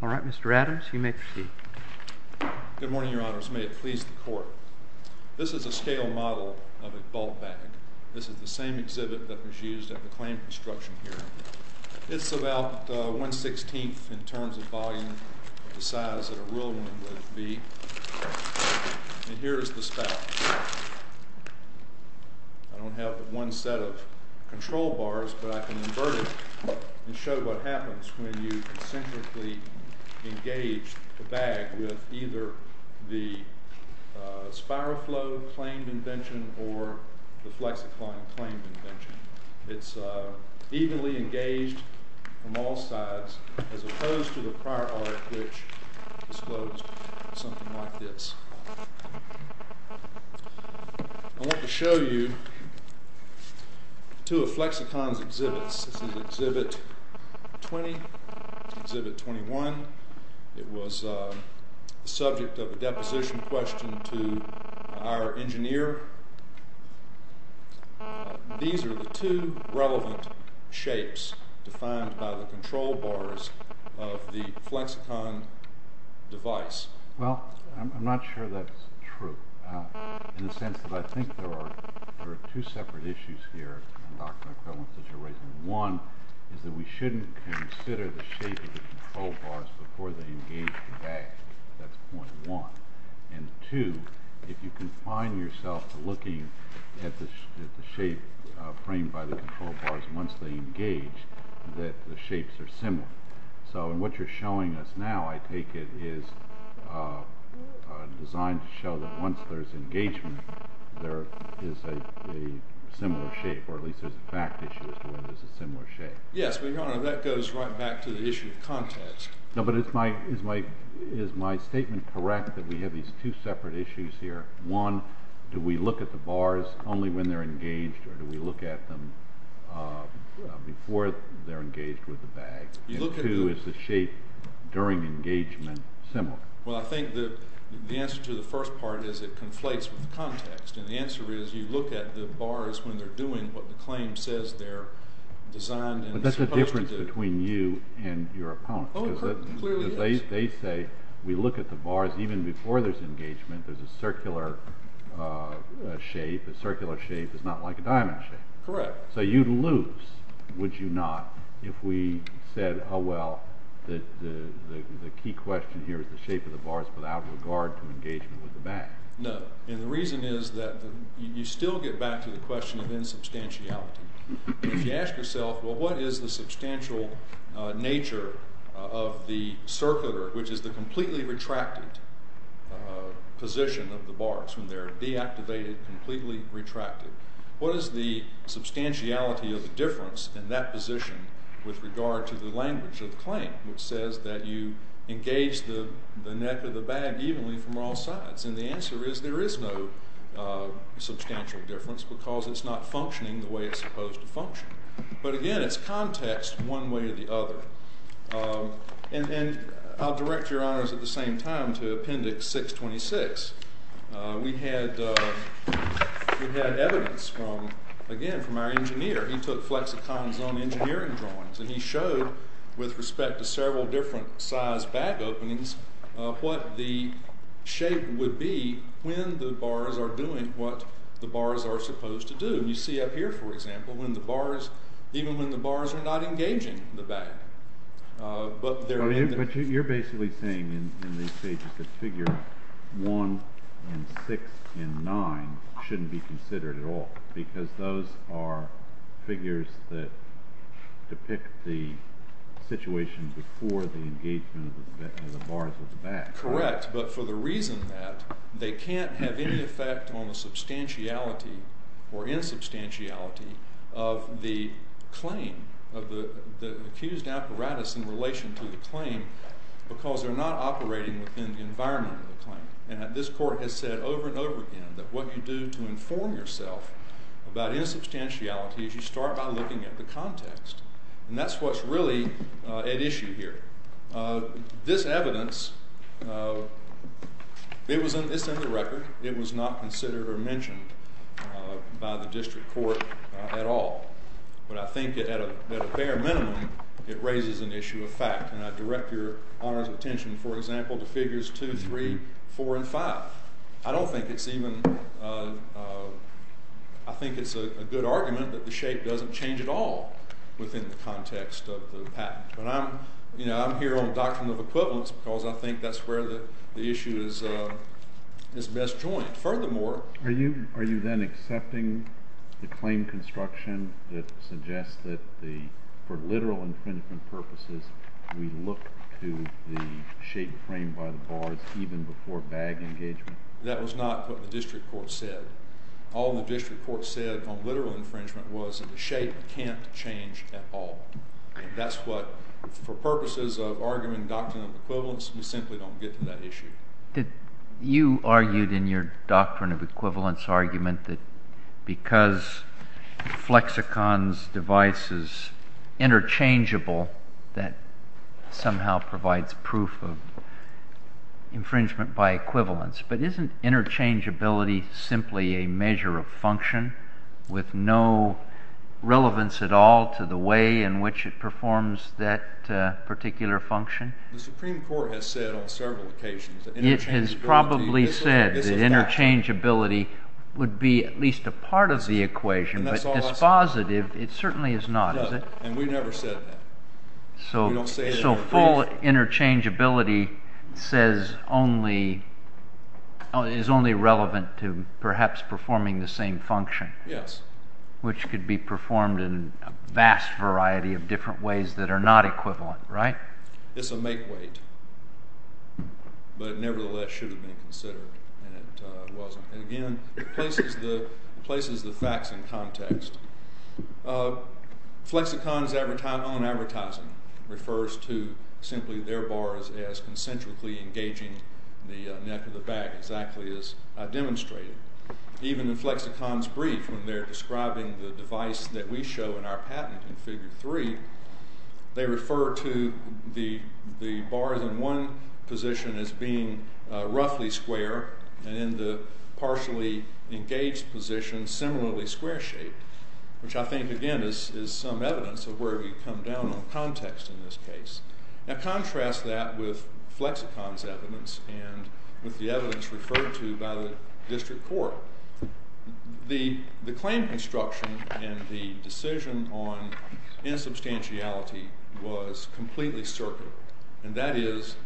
All right, Mr. Adams, you may proceed. Good morning, Your Honors. May it please the Court. This is a scale model of a ball bag. This is the same exhibit that was used at the claim construction hearing. It's about 1 16th in terms of volume, the size that a real one would be. And here is the spout. I don't have one set of control bars, but I can invert it and show what happens when you concentrically engage the bag with either the Spiroflow claimed invention or the Flexicon claimed invention. It's evenly engaged from all sides, as opposed to the prior art which disclosed something like this. I want to show you two of Flexicon's exhibits. This is exhibit 20, exhibit 21. It was the subject of a deposition question to our engineer. These are the two relevant shapes defined by the control bars of the Flexicon device. Well, I'm not sure that's true, in the sense that I think there are two separate issues here, one is that we shouldn't consider the shape of the control bars before they engage the bag. That's point one. And two, if you can find yourself looking at the shape framed by the control bars once they engage, that the shapes are similar. So what you're showing us now, I take it, is designed to show that once there's engagement, there is a similar shape, or at least there's a fact issue as to whether there's a similar shape. Yes, but Your Honor, that goes right back to the issue of context. No, but is my statement correct that we have these two separate issues here? One, do we look at the bars only when they're engaged, or do we look at them before they're engaged with the bag? And two, is the shape during engagement similar? Well, I think the answer to the first part is it conflates with the context. And the answer is you look at the bars when they're doing what the claim says they're designed and supposed to do. But that's the difference between you and your opponent. Because they say we look at the bars even before there's engagement. There's a circular shape. A circular shape is not like a diamond shape. Correct. So you'd lose, would you not, if we said, oh well, the key question here is the shape of the bars without regard to engagement with the bag? No. And the reason is that you still get back to the question of insubstantiality. If you ask yourself, well, what is the substantial nature of the circular, which is the completely retracted position of the bars, when they're deactivated, completely retracted, what is the substantiality of the difference in that position with regard to the language of the claim, which says that you engage the neck of the bag evenly from all sides? And the answer is there is no substantial difference because it's not functioning the way it's supposed to function. But again, it's context one way or the other. And I'll direct your honors at the same time to Appendix 626. We had evidence from, again, from our engineer. He took flexicons on engineering drawings. And he showed, with respect to several different size bag openings, what the shape would be when the bars are doing what the bars are supposed to do. And you see up here, for example, when the bars, even when the bars are not engaging the bag. But they're in there. But you're basically saying in these pages that figure 1 and 6 and 9 shouldn't be considered at all because those are figures that depict the situation before the engagement of the bars of the bag. Correct, but for the reason that they can't have any effect on the substantiality or insubstantiality of the claim, of the accused apparatus in relation to the claim because they're not operating within the environment of the claim. And this court has said over and over again that what you do to inform yourself about insubstantiality is you start by looking at the context. And that's what's really at issue here. This evidence, it's in the record. It was not considered or mentioned by the district court at all. But I think that at a bare minimum, it raises an issue of fact. And I direct your honor's attention, for example, to figures 2, 3, 4, and 5. I don't think it's even, I think it's a good argument that the shape doesn't change at all within the context of the patent. But I'm here on a doctrine of equivalence because I think that's where the issue is best joined. Furthermore, are you then accepting the claim construction that suggests that for literal and principal purposes, we look to the shape framed by the bars even before bag engagement? That was not what the district court said. All the district court said on literal infringement was that the shape can't change at all. And that's what, for purposes of arguing doctrine of equivalence, we simply don't get to that issue. You argued in your doctrine of equivalence argument that because Flexicon's device is interchangeable, that somehow provides proof of infringement by equivalence. But isn't interchangeability simply a measure of function with no relevance at all to the way in which it performs that particular function? The Supreme Court has said on several occasions that interchangeability It has probably said that interchangeability would be at least a part of the equation. But dispositive, it certainly is not, is it? And we never said that. So full interchangeability is only relevant to perhaps performing the same function? Yes. Which could be performed in a vast variety of different ways that are not equivalent, right? It's a make-weight. But it nevertheless should have been considered, and it wasn't. And again, it places the facts in context. Flexicon's own advertising refers to simply their bars as concentrically engaging the neck of the bag, exactly as I demonstrated. Even in Flexicon's brief, when they're describing the device that we show in our patent in Figure 3, they refer to the bars in one position as being roughly square, and in the partially engaged position, similarly square-shaped, which I think, again, is some evidence of where we've come down on context in this case. Now contrast that with Flexicon's evidence and with the evidence referred to by the district court. The claim construction and the decision on insubstantiality was completely circular. And that is,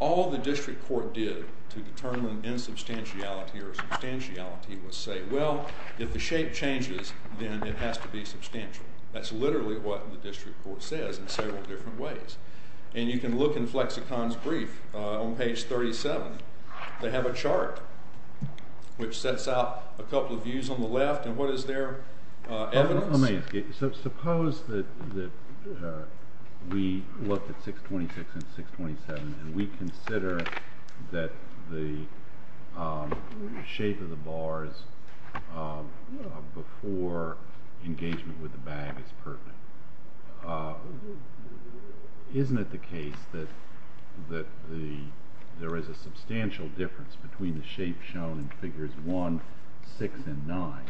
all the district court did to determine insubstantiality or substantiality was say, well, if the shape changes, then it has to be substantial. That's literally what the district court says in several different ways. And you can look in Flexicon's brief on page 37. They have a chart which sets out a couple of views on the left, and what is their evidence? Let me ask you, suppose that we look at 626 and 627, and we consider that the shape of the bars before engagement with the bag is pertinent. Isn't it the case that there is a substantial difference between the shape shown in figures 1, 6, and 9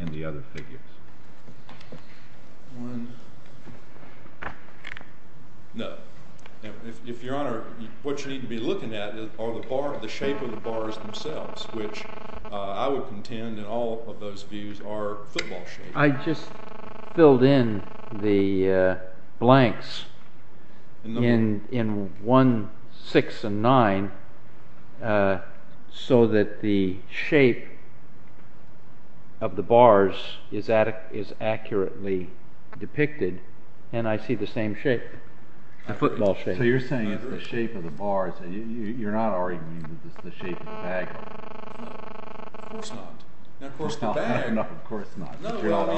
and the other figures? No. If your honor, what you need to be looking at are the shape of the bars themselves, which I would contend in all of those views are football-shaped. I just filled in the blanks in 1, 6, and 9, so that the shape of the bars is accurately depicted, and I see the same shape, the football shape. So you're saying it's the shape of the bars. You're not arguing that it's the shape of the bag. No, of course not. No, of course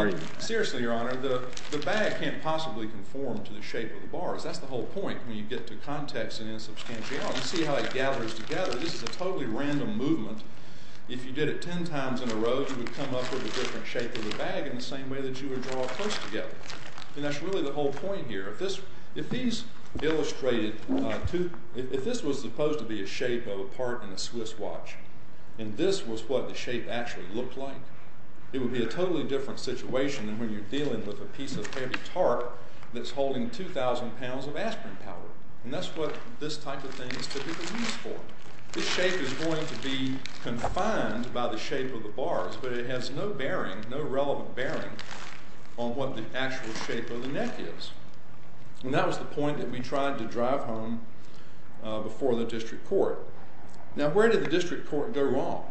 not. Seriously, your honor, the bag can't possibly conform to the shape of the bars. That's the whole point when you get to context and insubstantiality. You see how it gathers together. This is a totally random movement. If you did it ten times in a row, you would come up with a different shape of the bag in the same way that you would draw it close together. And that's really the whole point here. If this was supposed to be a shape of a part in a Swiss watch, and this was what the shape actually looked like, it would be a totally different situation than when you're dealing with a piece of heavy tarp that's holding 2,000 pounds of aspirin powder. And that's what this type of thing is typically used for. This shape is going to be confined by the shape of the bars, but it has no bearing, no relevant bearing, on what the actual shape of the neck is. And that was the point that we tried to drive home before the district court. Now, where did the district court go wrong?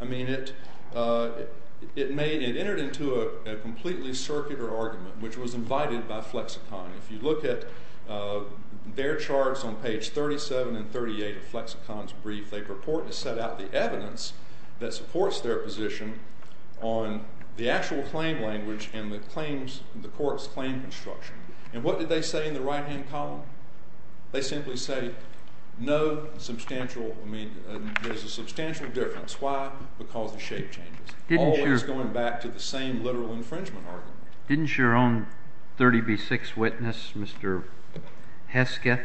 I mean, it entered into a completely circular argument, which was invited by Flexicon. If you look at their charts on page 37 and 38 of Flexicon's brief, they purport to set out the evidence that supports their position on the actual claim language and the court's claim construction. And what did they say in the right-hand column? They simply say there's a substantial difference. Why? Because the shape changes. All that's going back to the same literal infringement argument. Didn't your own 30b-6 witness, Mr. Hesketh,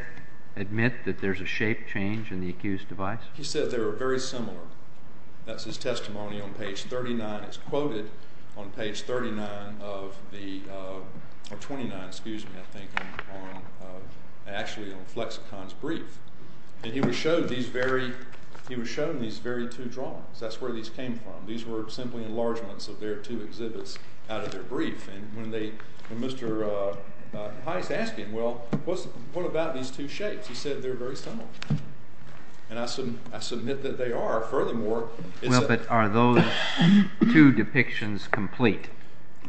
admit that there's a shape change in the accused device? He said they were very similar. That's his testimony on page 39. It's quoted on page 29 on Flexicon's brief. And he was shown these very two drawings. That's where these came from. These were simply enlargements of their two exhibits out of their brief. And Mr. Hines asked him, well, what about these two shapes? He said they're very similar. And I submit that they are. But are those two depictions complete?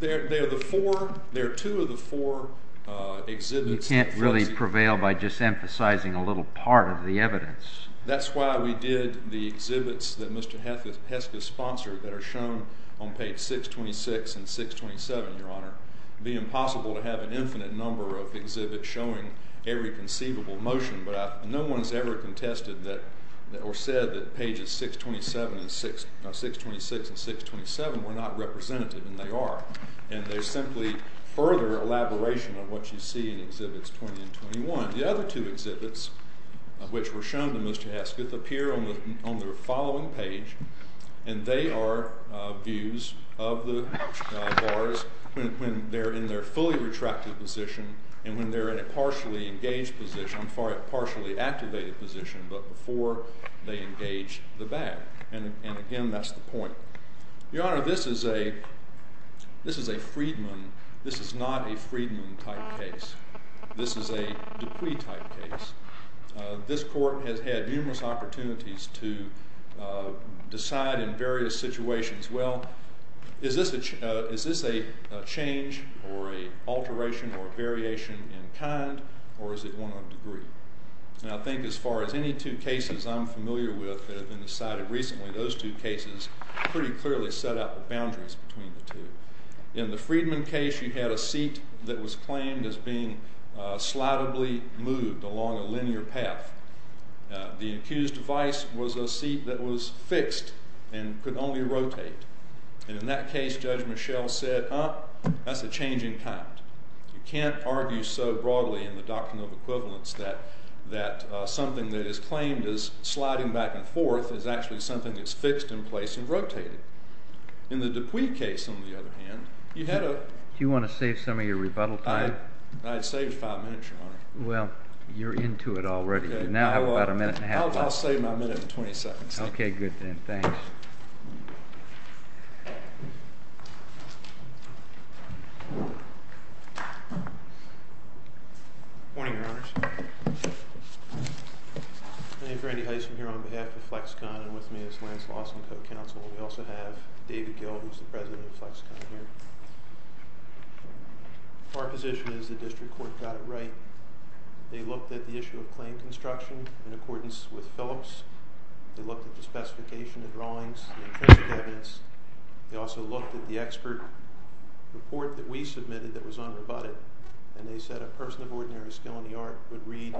They are two of the four exhibits. You can't really prevail by just emphasizing a little part of the evidence. That's why we did the exhibits that Mr. Hesketh sponsored that are shown on page 626 and 627, Your Honor. It would be impossible to have an infinite number of exhibits showing every conceivable motion. But no one has ever contested or said that pages 626 and 627 were not representative, and they are. And they're simply further elaboration of what you see in Exhibits 20 and 21. The other two exhibits, which were shown to Mr. Hesketh, appear on the following page. And they are views of the bars when they're in their fully retracted position and when they're in a partially engaged position. I'm sorry, a partially activated position, but before they engage the back. And again, that's the point. Your Honor, this is a Friedman. This is not a Friedman-type case. This is a Dupuy-type case. This court has had numerous opportunities to decide in various situations, well, is this a change or a alteration or a variation in kind, or is it one of a degree? And I think as far as any two cases I'm familiar with that have been decided recently, those two cases pretty clearly set up the boundaries between the two. In the Friedman case, you had a seat that was claimed as being slidably moved along a linear path. The accused vice was a seat that was fixed and could only rotate. And in that case, Judge Mischel said, huh, that's a change in kind. You can't argue so broadly in the doctrine of equivalence that something that is claimed as sliding back and forth is actually something that's fixed in place and rotated. In the Dupuy case, on the other hand, you had a... Do you want to save some of your rebuttal time? I'd save five minutes, Your Honor. Well, you're into it already. You now have about a minute and a half left. I'll save my minute and 20 seconds. Okay, good then. Thanks. Morning, Your Honors. My name's Randy Heisman here on behalf of FlexCon and with me is Lance Lawson, co-counsel. We also have David Gill, who's the president of FlexCon here. Our position is the district court got it right. They looked at the issue of claim construction in accordance with Phillips. They looked at the specification of drawings and printed evidence. They also looked at the expert report that we submitted that was unrebutted, and they said a person of ordinary skill in the art would read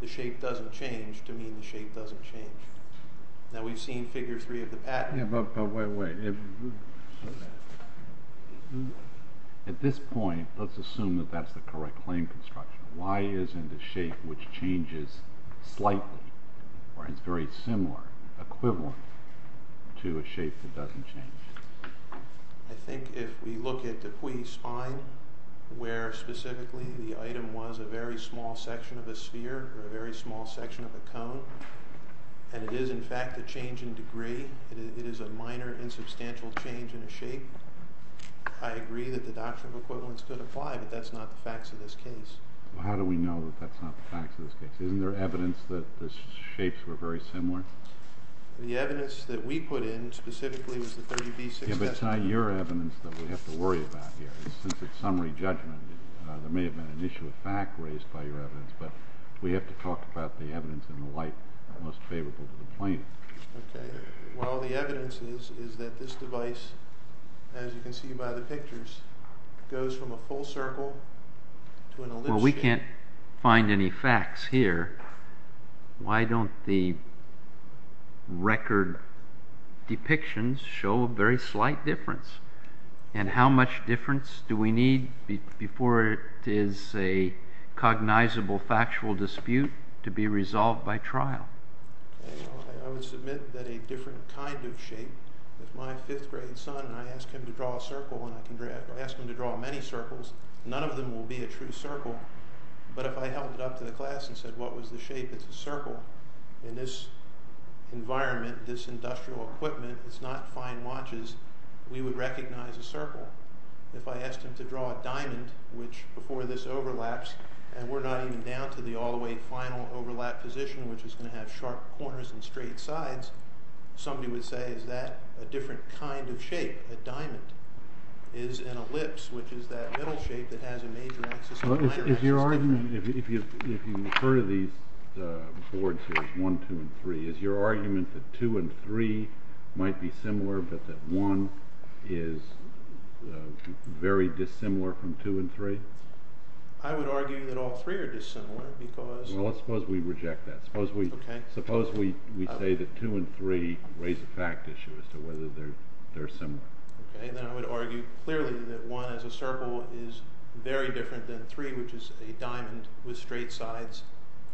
the shape doesn't change to mean the shape doesn't change. Now we've seen figure three of the pattern. Yeah, but wait, wait. At this point, let's assume that that's the correct claim construction. Why isn't a shape which changes slightly or is very similar, equivalent, to a shape that doesn't change? I think if we look at Dupuy's Spine, where specifically the item was a very small section of a sphere or a very small section of a cone, and it is in fact a change in degree, it is a minor, insubstantial change in a shape, I agree that the doctrine of equivalence could apply, but that's not the facts of this case. How do we know that that's not the facts of this case? Isn't there evidence that the shapes were very similar? The evidence that we put in, specifically, was the 30B6 estimate. Yeah, but it's not your evidence that we have to worry about here. It's a summary judgment. There may have been an issue of fact raised by your evidence, but we have to talk about the evidence in the light that's most favorable to the plaintiff. Okay. Well, the evidence is that this device, as you can see by the pictures, goes from a full circle to an ellipse shape. Well, we can't find any facts here. Why don't the record depictions show a very slight difference? And how much difference do we need before it is a cognizable factual dispute to be resolved by trial? I would submit that a different kind of shape, if my fifth-grade son, and I ask him to draw a circle, and I ask him to draw many circles, none of them will be a true circle, but if I held it up to the class and said, what was the shape? It's a circle. In this environment, this industrial equipment, it's not fine watches. We would recognize a circle. If I asked him to draw a diamond, which, before this overlaps, and we're not even down to the all-the-way final overlap position, which is going to have sharp corners and straight sides, somebody would say, is that a different kind of shape? A diamond is an ellipse, which is that middle shape that has a major axis. Is your argument, if you refer to these boards as 1, 2, and 3, is your argument that 2 and 3 might be similar, but that 1 is very dissimilar from 2 and 3? I would argue that all three are dissimilar, because... Well, let's suppose we reject that. Suppose we say that 2 and 3 raise a fact issue as to whether they're similar. Then I would argue clearly that 1, as a circle, is very different than 3, which is a diamond with straight sides,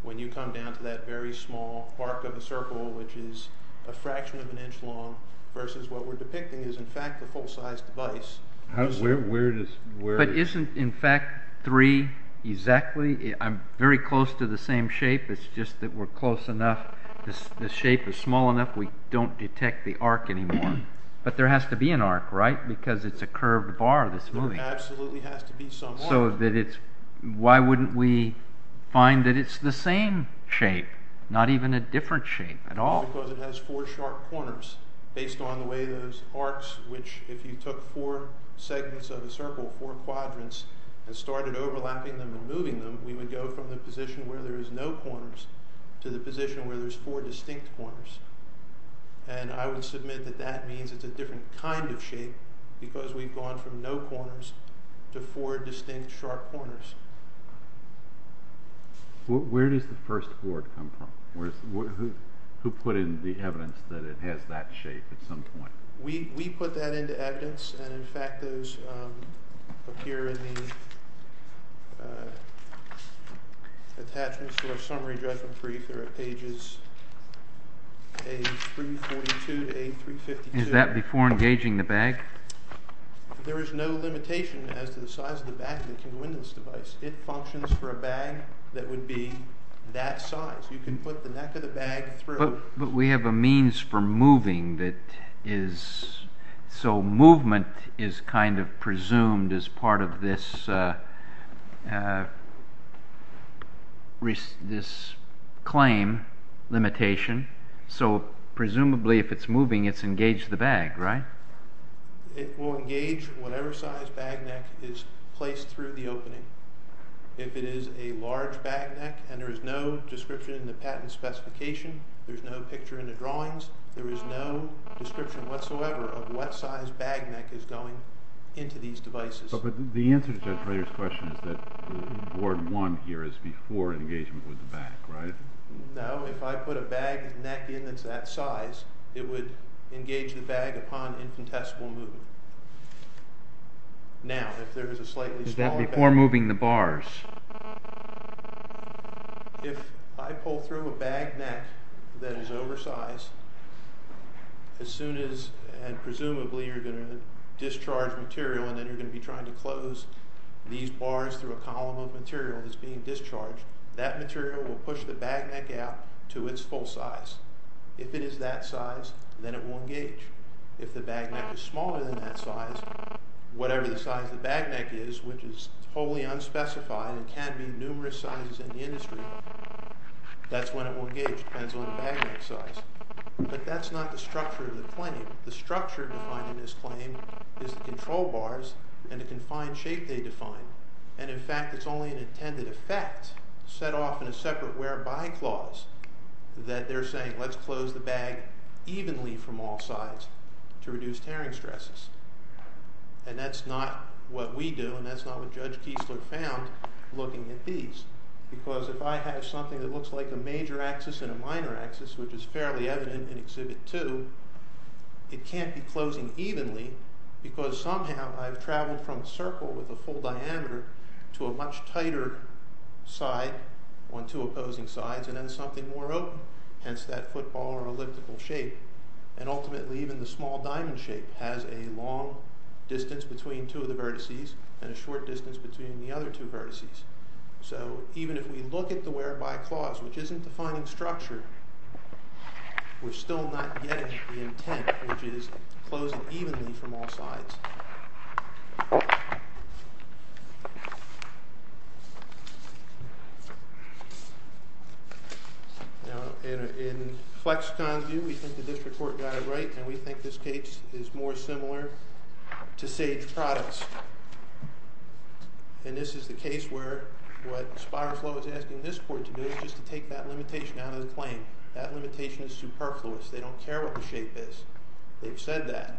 when you come down to that very small arc of a circle, which is a fraction of an inch long, versus what we're depicting is, in fact, a full-sized device. Where does... But isn't, in fact, 3 exactly... I'm very close to the same shape, it's just that we're close enough, the shape is small enough we don't detect the arc anymore. But there has to be an arc, right? Because it's a curved bar that's moving. There absolutely has to be some arc. So why wouldn't we find that it's the same shape, not even a different shape at all? Because it has four sharp corners, based on the way those arcs, which, if you took four segments of a circle, four quadrants, and started overlapping them and moving them, we would go from the position where there is no corners to the position where there's four distinct corners. And I would submit that that means it's a different kind of shape, because we've gone from no corners to four distinct sharp corners. Where does the first board come from? Who put in the evidence that it has that shape at some point? We put that into evidence, and, in fact, those appear in the attachments to our summary judgment brief. They're at pages 342 to 352. Is that before engaging the bag? There is no limitation as to the size of the bag that can win this device. It functions for a bag that would be that size. You can put the neck of the bag through. But we have a means for moving that is... Movement is kind of presumed as part of this claim limitation. So, presumably, if it's moving, it's engaged the bag, right? It will engage whatever size bag neck is placed through the opening. If it is a large bag neck, and there is no description in the patent specification, there's no picture in the drawings, there is no description whatsoever of what size bag neck is going into these devices. But the answer to Judge Frayer's question is that Ward 1 here is before engagement with the bag, right? No, if I put a bag neck in that's that size, it would engage the bag upon infinitesimal movement. Now, if there is a slightly smaller bag... Is that before moving the bars? If I pull through a bag neck that is oversized, as soon as, and presumably, you're going to discharge material and then you're going to be trying to close these bars through a column of material that's being discharged, that material will push the bag neck out to its full size. If it is that size, then it will engage. If the bag neck is smaller than that size, whatever the size the bag neck is, which is wholly unspecified and can be numerous sizes in the industry, that's when it will engage. It depends on the bag neck size. But that's not the structure of the claim. The structure defined in this claim is the control bars and the confined shape they define. And, in fact, it's only an intended effect set off in a separate whereby clause that they're saying let's close the bag evenly from all sides to reduce tearing stresses. And that's not what we do, and that's not what Judge Kiesler found looking at these. Because if I have something that looks like a major axis and a minor axis, which is fairly evident in Exhibit 2, it can't be closing evenly because somehow I've traveled from a circle with a full diameter to a much tighter side on two opposing sides and then something more open, hence that football or elliptical shape. And ultimately even the small diamond shape has a long distance between two of the vertices and a short distance between the other two vertices. So even if we look at the whereby clause, which isn't defining structure, we're still not getting the intent, which is closing evenly from all sides. Now, in FlexCon's view, we think the district court got it right, and we think this case is more similar to Sage Products. And this is the case where what Spiroflow is asking this court to do is just to take that limitation out of the claim. That limitation is superfluous. They don't care what the shape is. That limitation is superfluous. They don't care what the shape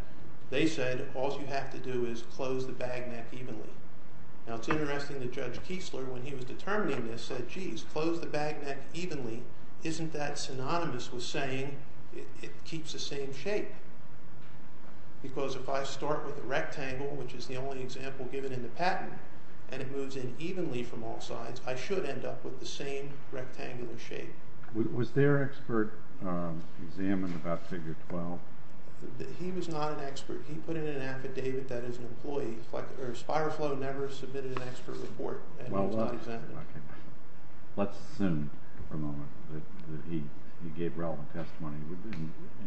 is. All they have to do is close the bag neck evenly. Now, it's interesting that Judge Kiesler, when he was determining this, said, geez, close the bag neck evenly. Isn't that synonymous with saying it keeps the same shape? Because if I start with a rectangle, which is the only example given in the patent, and it moves in evenly from all sides, I should end up with the same rectangular shape. Was their expert examined about Figure 12? He was not an expert. He put in an affidavit that his employee, or Spiroflow, never submitted an expert report, and he was not examined. Let's assume for a moment that he gave relevant testimony,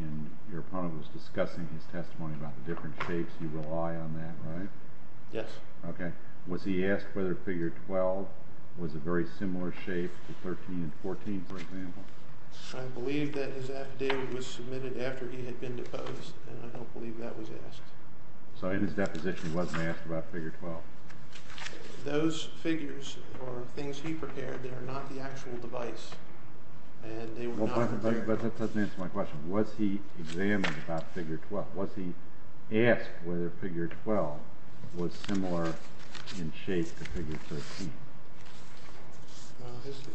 and your opponent was discussing his testimony about the different shapes. You rely on that, right? Yes. Okay. Was he asked whether Figure 12 was a very similar shape to 13 and 14, for example? I believe that his affidavit was submitted after he had been deposed, and I don't believe that was asked. So in his deposition he wasn't asked about Figure 12? Those figures were things he prepared. They were not the actual device, and they were not prepared. But that doesn't answer my question. Was he examined about Figure 12? Was he asked whether Figure 12 was similar in shape to Figure 13?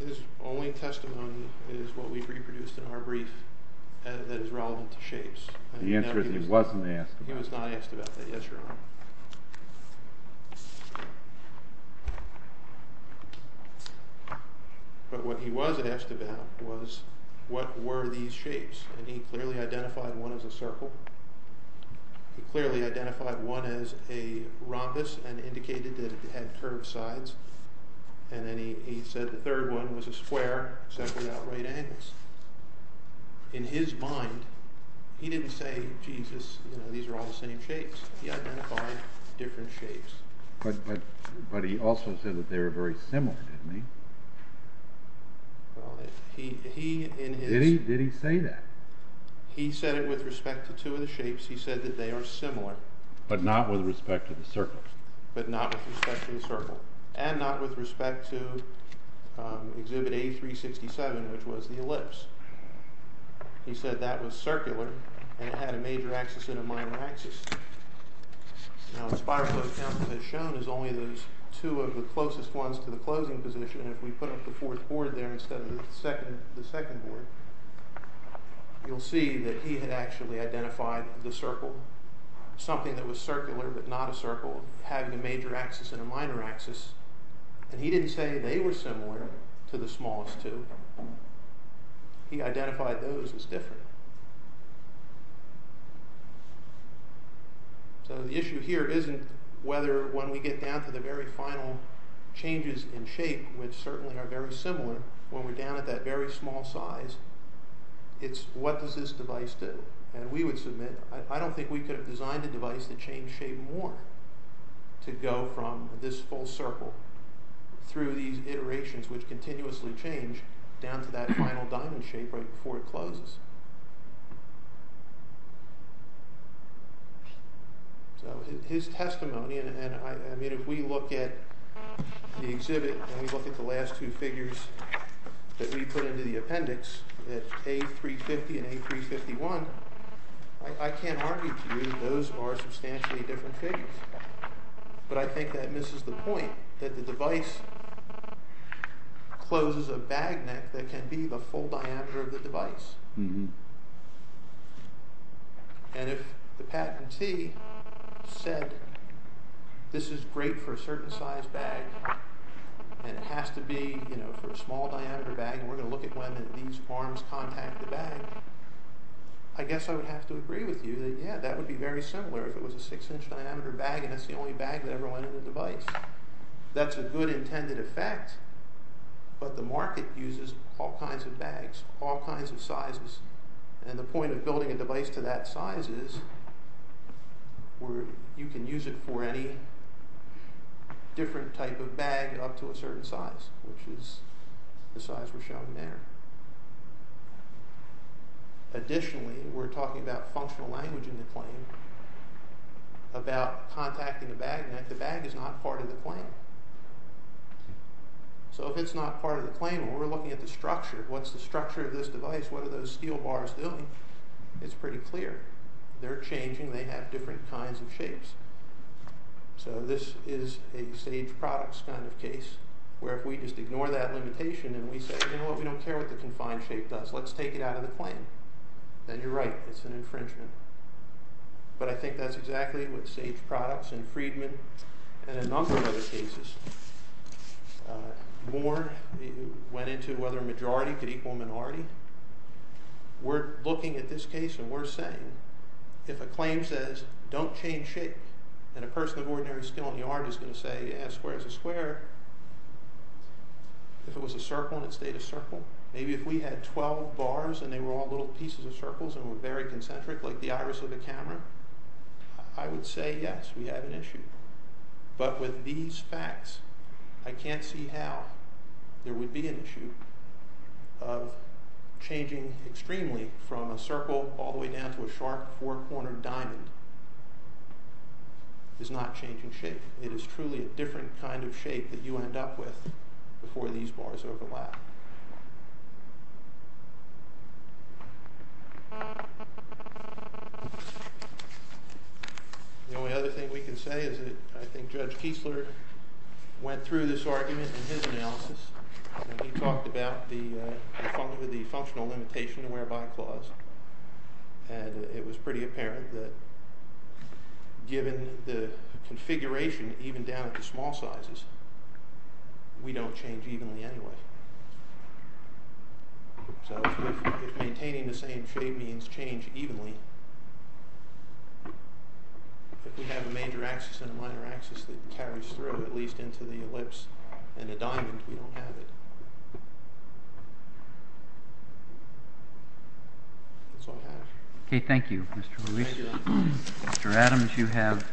His only testimony is what we reproduced in our brief that is relevant to shapes. The answer is he wasn't asked about that. He was not asked about that, yes, Your Honor. But what he was asked about was what were these shapes, and he clearly identified one as a circle. He clearly identified one as a rhombus and indicated that it had curved sides, and then he said the third one was a square except without right angles. In his mind, he didn't say, Jesus, these are all the same shapes. He identified different shapes. But he also said that they were very similar, didn't he? Did he say that? He said it with respect to two of the shapes. He said that they are similar. But not with respect to the circles? But not with respect to the circles, and not with respect to Exhibit A367, which was the ellipse. He said that was circular and had a major axis and a minor axis. Now, the spiral of counts as shown is only those two of the closest ones to the closing position, and if we put up the fourth board there instead of the second board, you'll see that he had actually identified the circle, something that was circular but not a circle, having a major axis and a minor axis, and he didn't say they were similar to the smallest two. He identified those as different. So the issue here isn't whether when we get down to the very final changes in shape, which certainly are very similar when we're down at that very small size, it's what does this device do? And we would submit, I don't think we could have designed a device to change shape more to go from this full circle through these iterations, which continuously change, down to that final diamond shape right before it closes. So his testimony, and if we look at the exhibit, and we look at the last two figures that we put into the appendix, the A350 and A351, I can't argue with you that those are substantially different figures, but I think that misses the point, that the device closes a bag neck that can be the full diameter of the device. And if the patentee said, this is great for a certain size bag, and it has to be for a small diameter bag, and we're going to look at when these arms contact the bag, I guess I would have to agree with you that yeah, that would be very similar if it was a six inch diameter bag, and that's the only bag that ever went in the device. That's a good intended effect, but the market uses all kinds of bags, all kinds of sizes, and the point of building a device to that size is, where you can use it for any different type of bag up to a certain size, which is the size we're showing there. Additionally, we're talking about functional language in the claim, about contacting a bag neck, the bag is not part of the claim. So if it's not part of the claim, when we're looking at the structure, what's the structure of this device, what are those steel bars doing, it's pretty clear. They're changing, they have different kinds of shapes. So this is a staged products kind of case, where if we just ignore that limitation and we say, you know what, we don't care what the confined shape does, let's take it out of the claim. Then you're right, it's an infringement. But I think that's exactly what staged products and Friedman and a number of other cases warned, went into whether a majority could equal a minority. We're looking at this case and we're saying, if a claim says, don't change shape, and a person of ordinary skill in the art is going to say, as square as a square, if it was a circle and it stayed a circle, maybe if we had 12 bars and they were all little pieces of circles and were very concentric, like the iris of the camera, I would say, yes, we have an issue. But with these facts, I can't see how there would be an issue of changing extremely from a circle all the way down to a sharp, four-cornered diamond is not changing shape. It is truly a different kind of shape that you end up with before these bars overlap. The only other thing we can say is that I think Judge Kiesler went through this argument in his analysis and he talked about the functional limitation to whereby clause. And it was pretty apparent that given the configuration, even down at the small sizes, we don't change evenly anyway. So if maintaining the same shape means change evenly, if we have a major axis and a minor axis that carries through, at least into the ellipse and the diamond, we don't have it. Okay, thank you, Mr. Lewis. Mr. Adams, you have...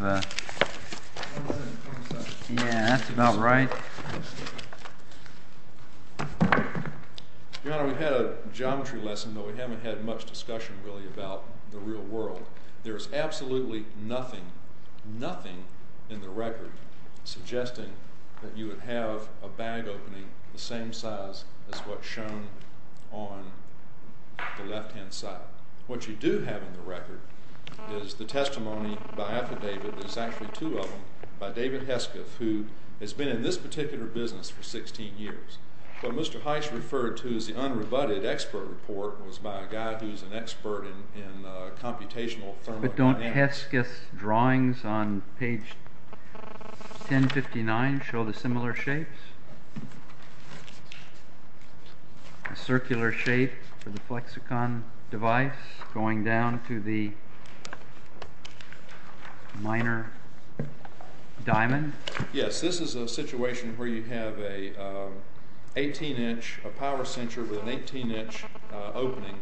Yeah, that's about right. Your Honor, we had a geometry lesson, but we haven't had much discussion really about the real world. There is absolutely nothing, nothing in the record suggesting that you would have a bag opening the same size as what's shown on the left-hand side. What you do have in the record is the testimony by affidavit, there's actually two of them, by David Hesketh, who has been in this particular business for 16 years. What Mr. Heiss referred to as the unrebutted expert report was by a guy who's an expert in computational thermodynamics. But don't Hesketh's drawings on page 1059 show the similar shapes? Circular shape for the flexicon device going down to the minor diamond? Yes, this is a situation where you have a 18-inch power sensor with an 18-inch opening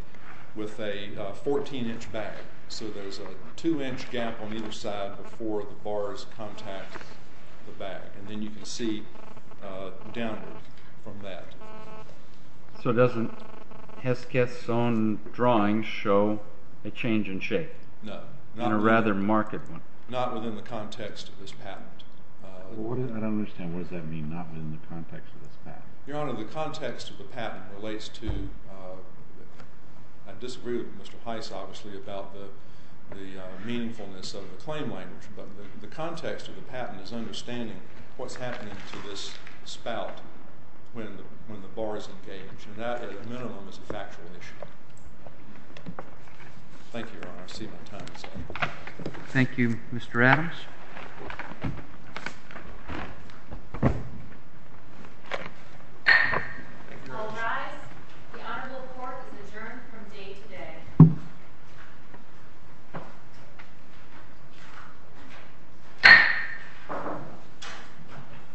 with a 14-inch bag. So there's a 2-inch gap on either side before the bars contact the bag. And then you can see downward from that. So doesn't Hesketh's own drawing show a change in shape? No. In a rather marked one? Not within the context of this patent. I don't understand. What does that mean, not within the context of this patent? Your Honor, the context of the patent relates to... I disagree with Mr. Heiss, obviously, about the meaningfulness of the claim language, but the context of the patent is understanding what's happening to this spout when the bar is engaged. And that, at a minimum, is a factual issue. Thank you, Your Honor. I see my time is up. Thank you, Mr. Adams. I'll rise. The honorable court is adjourned from day to day. Thank you.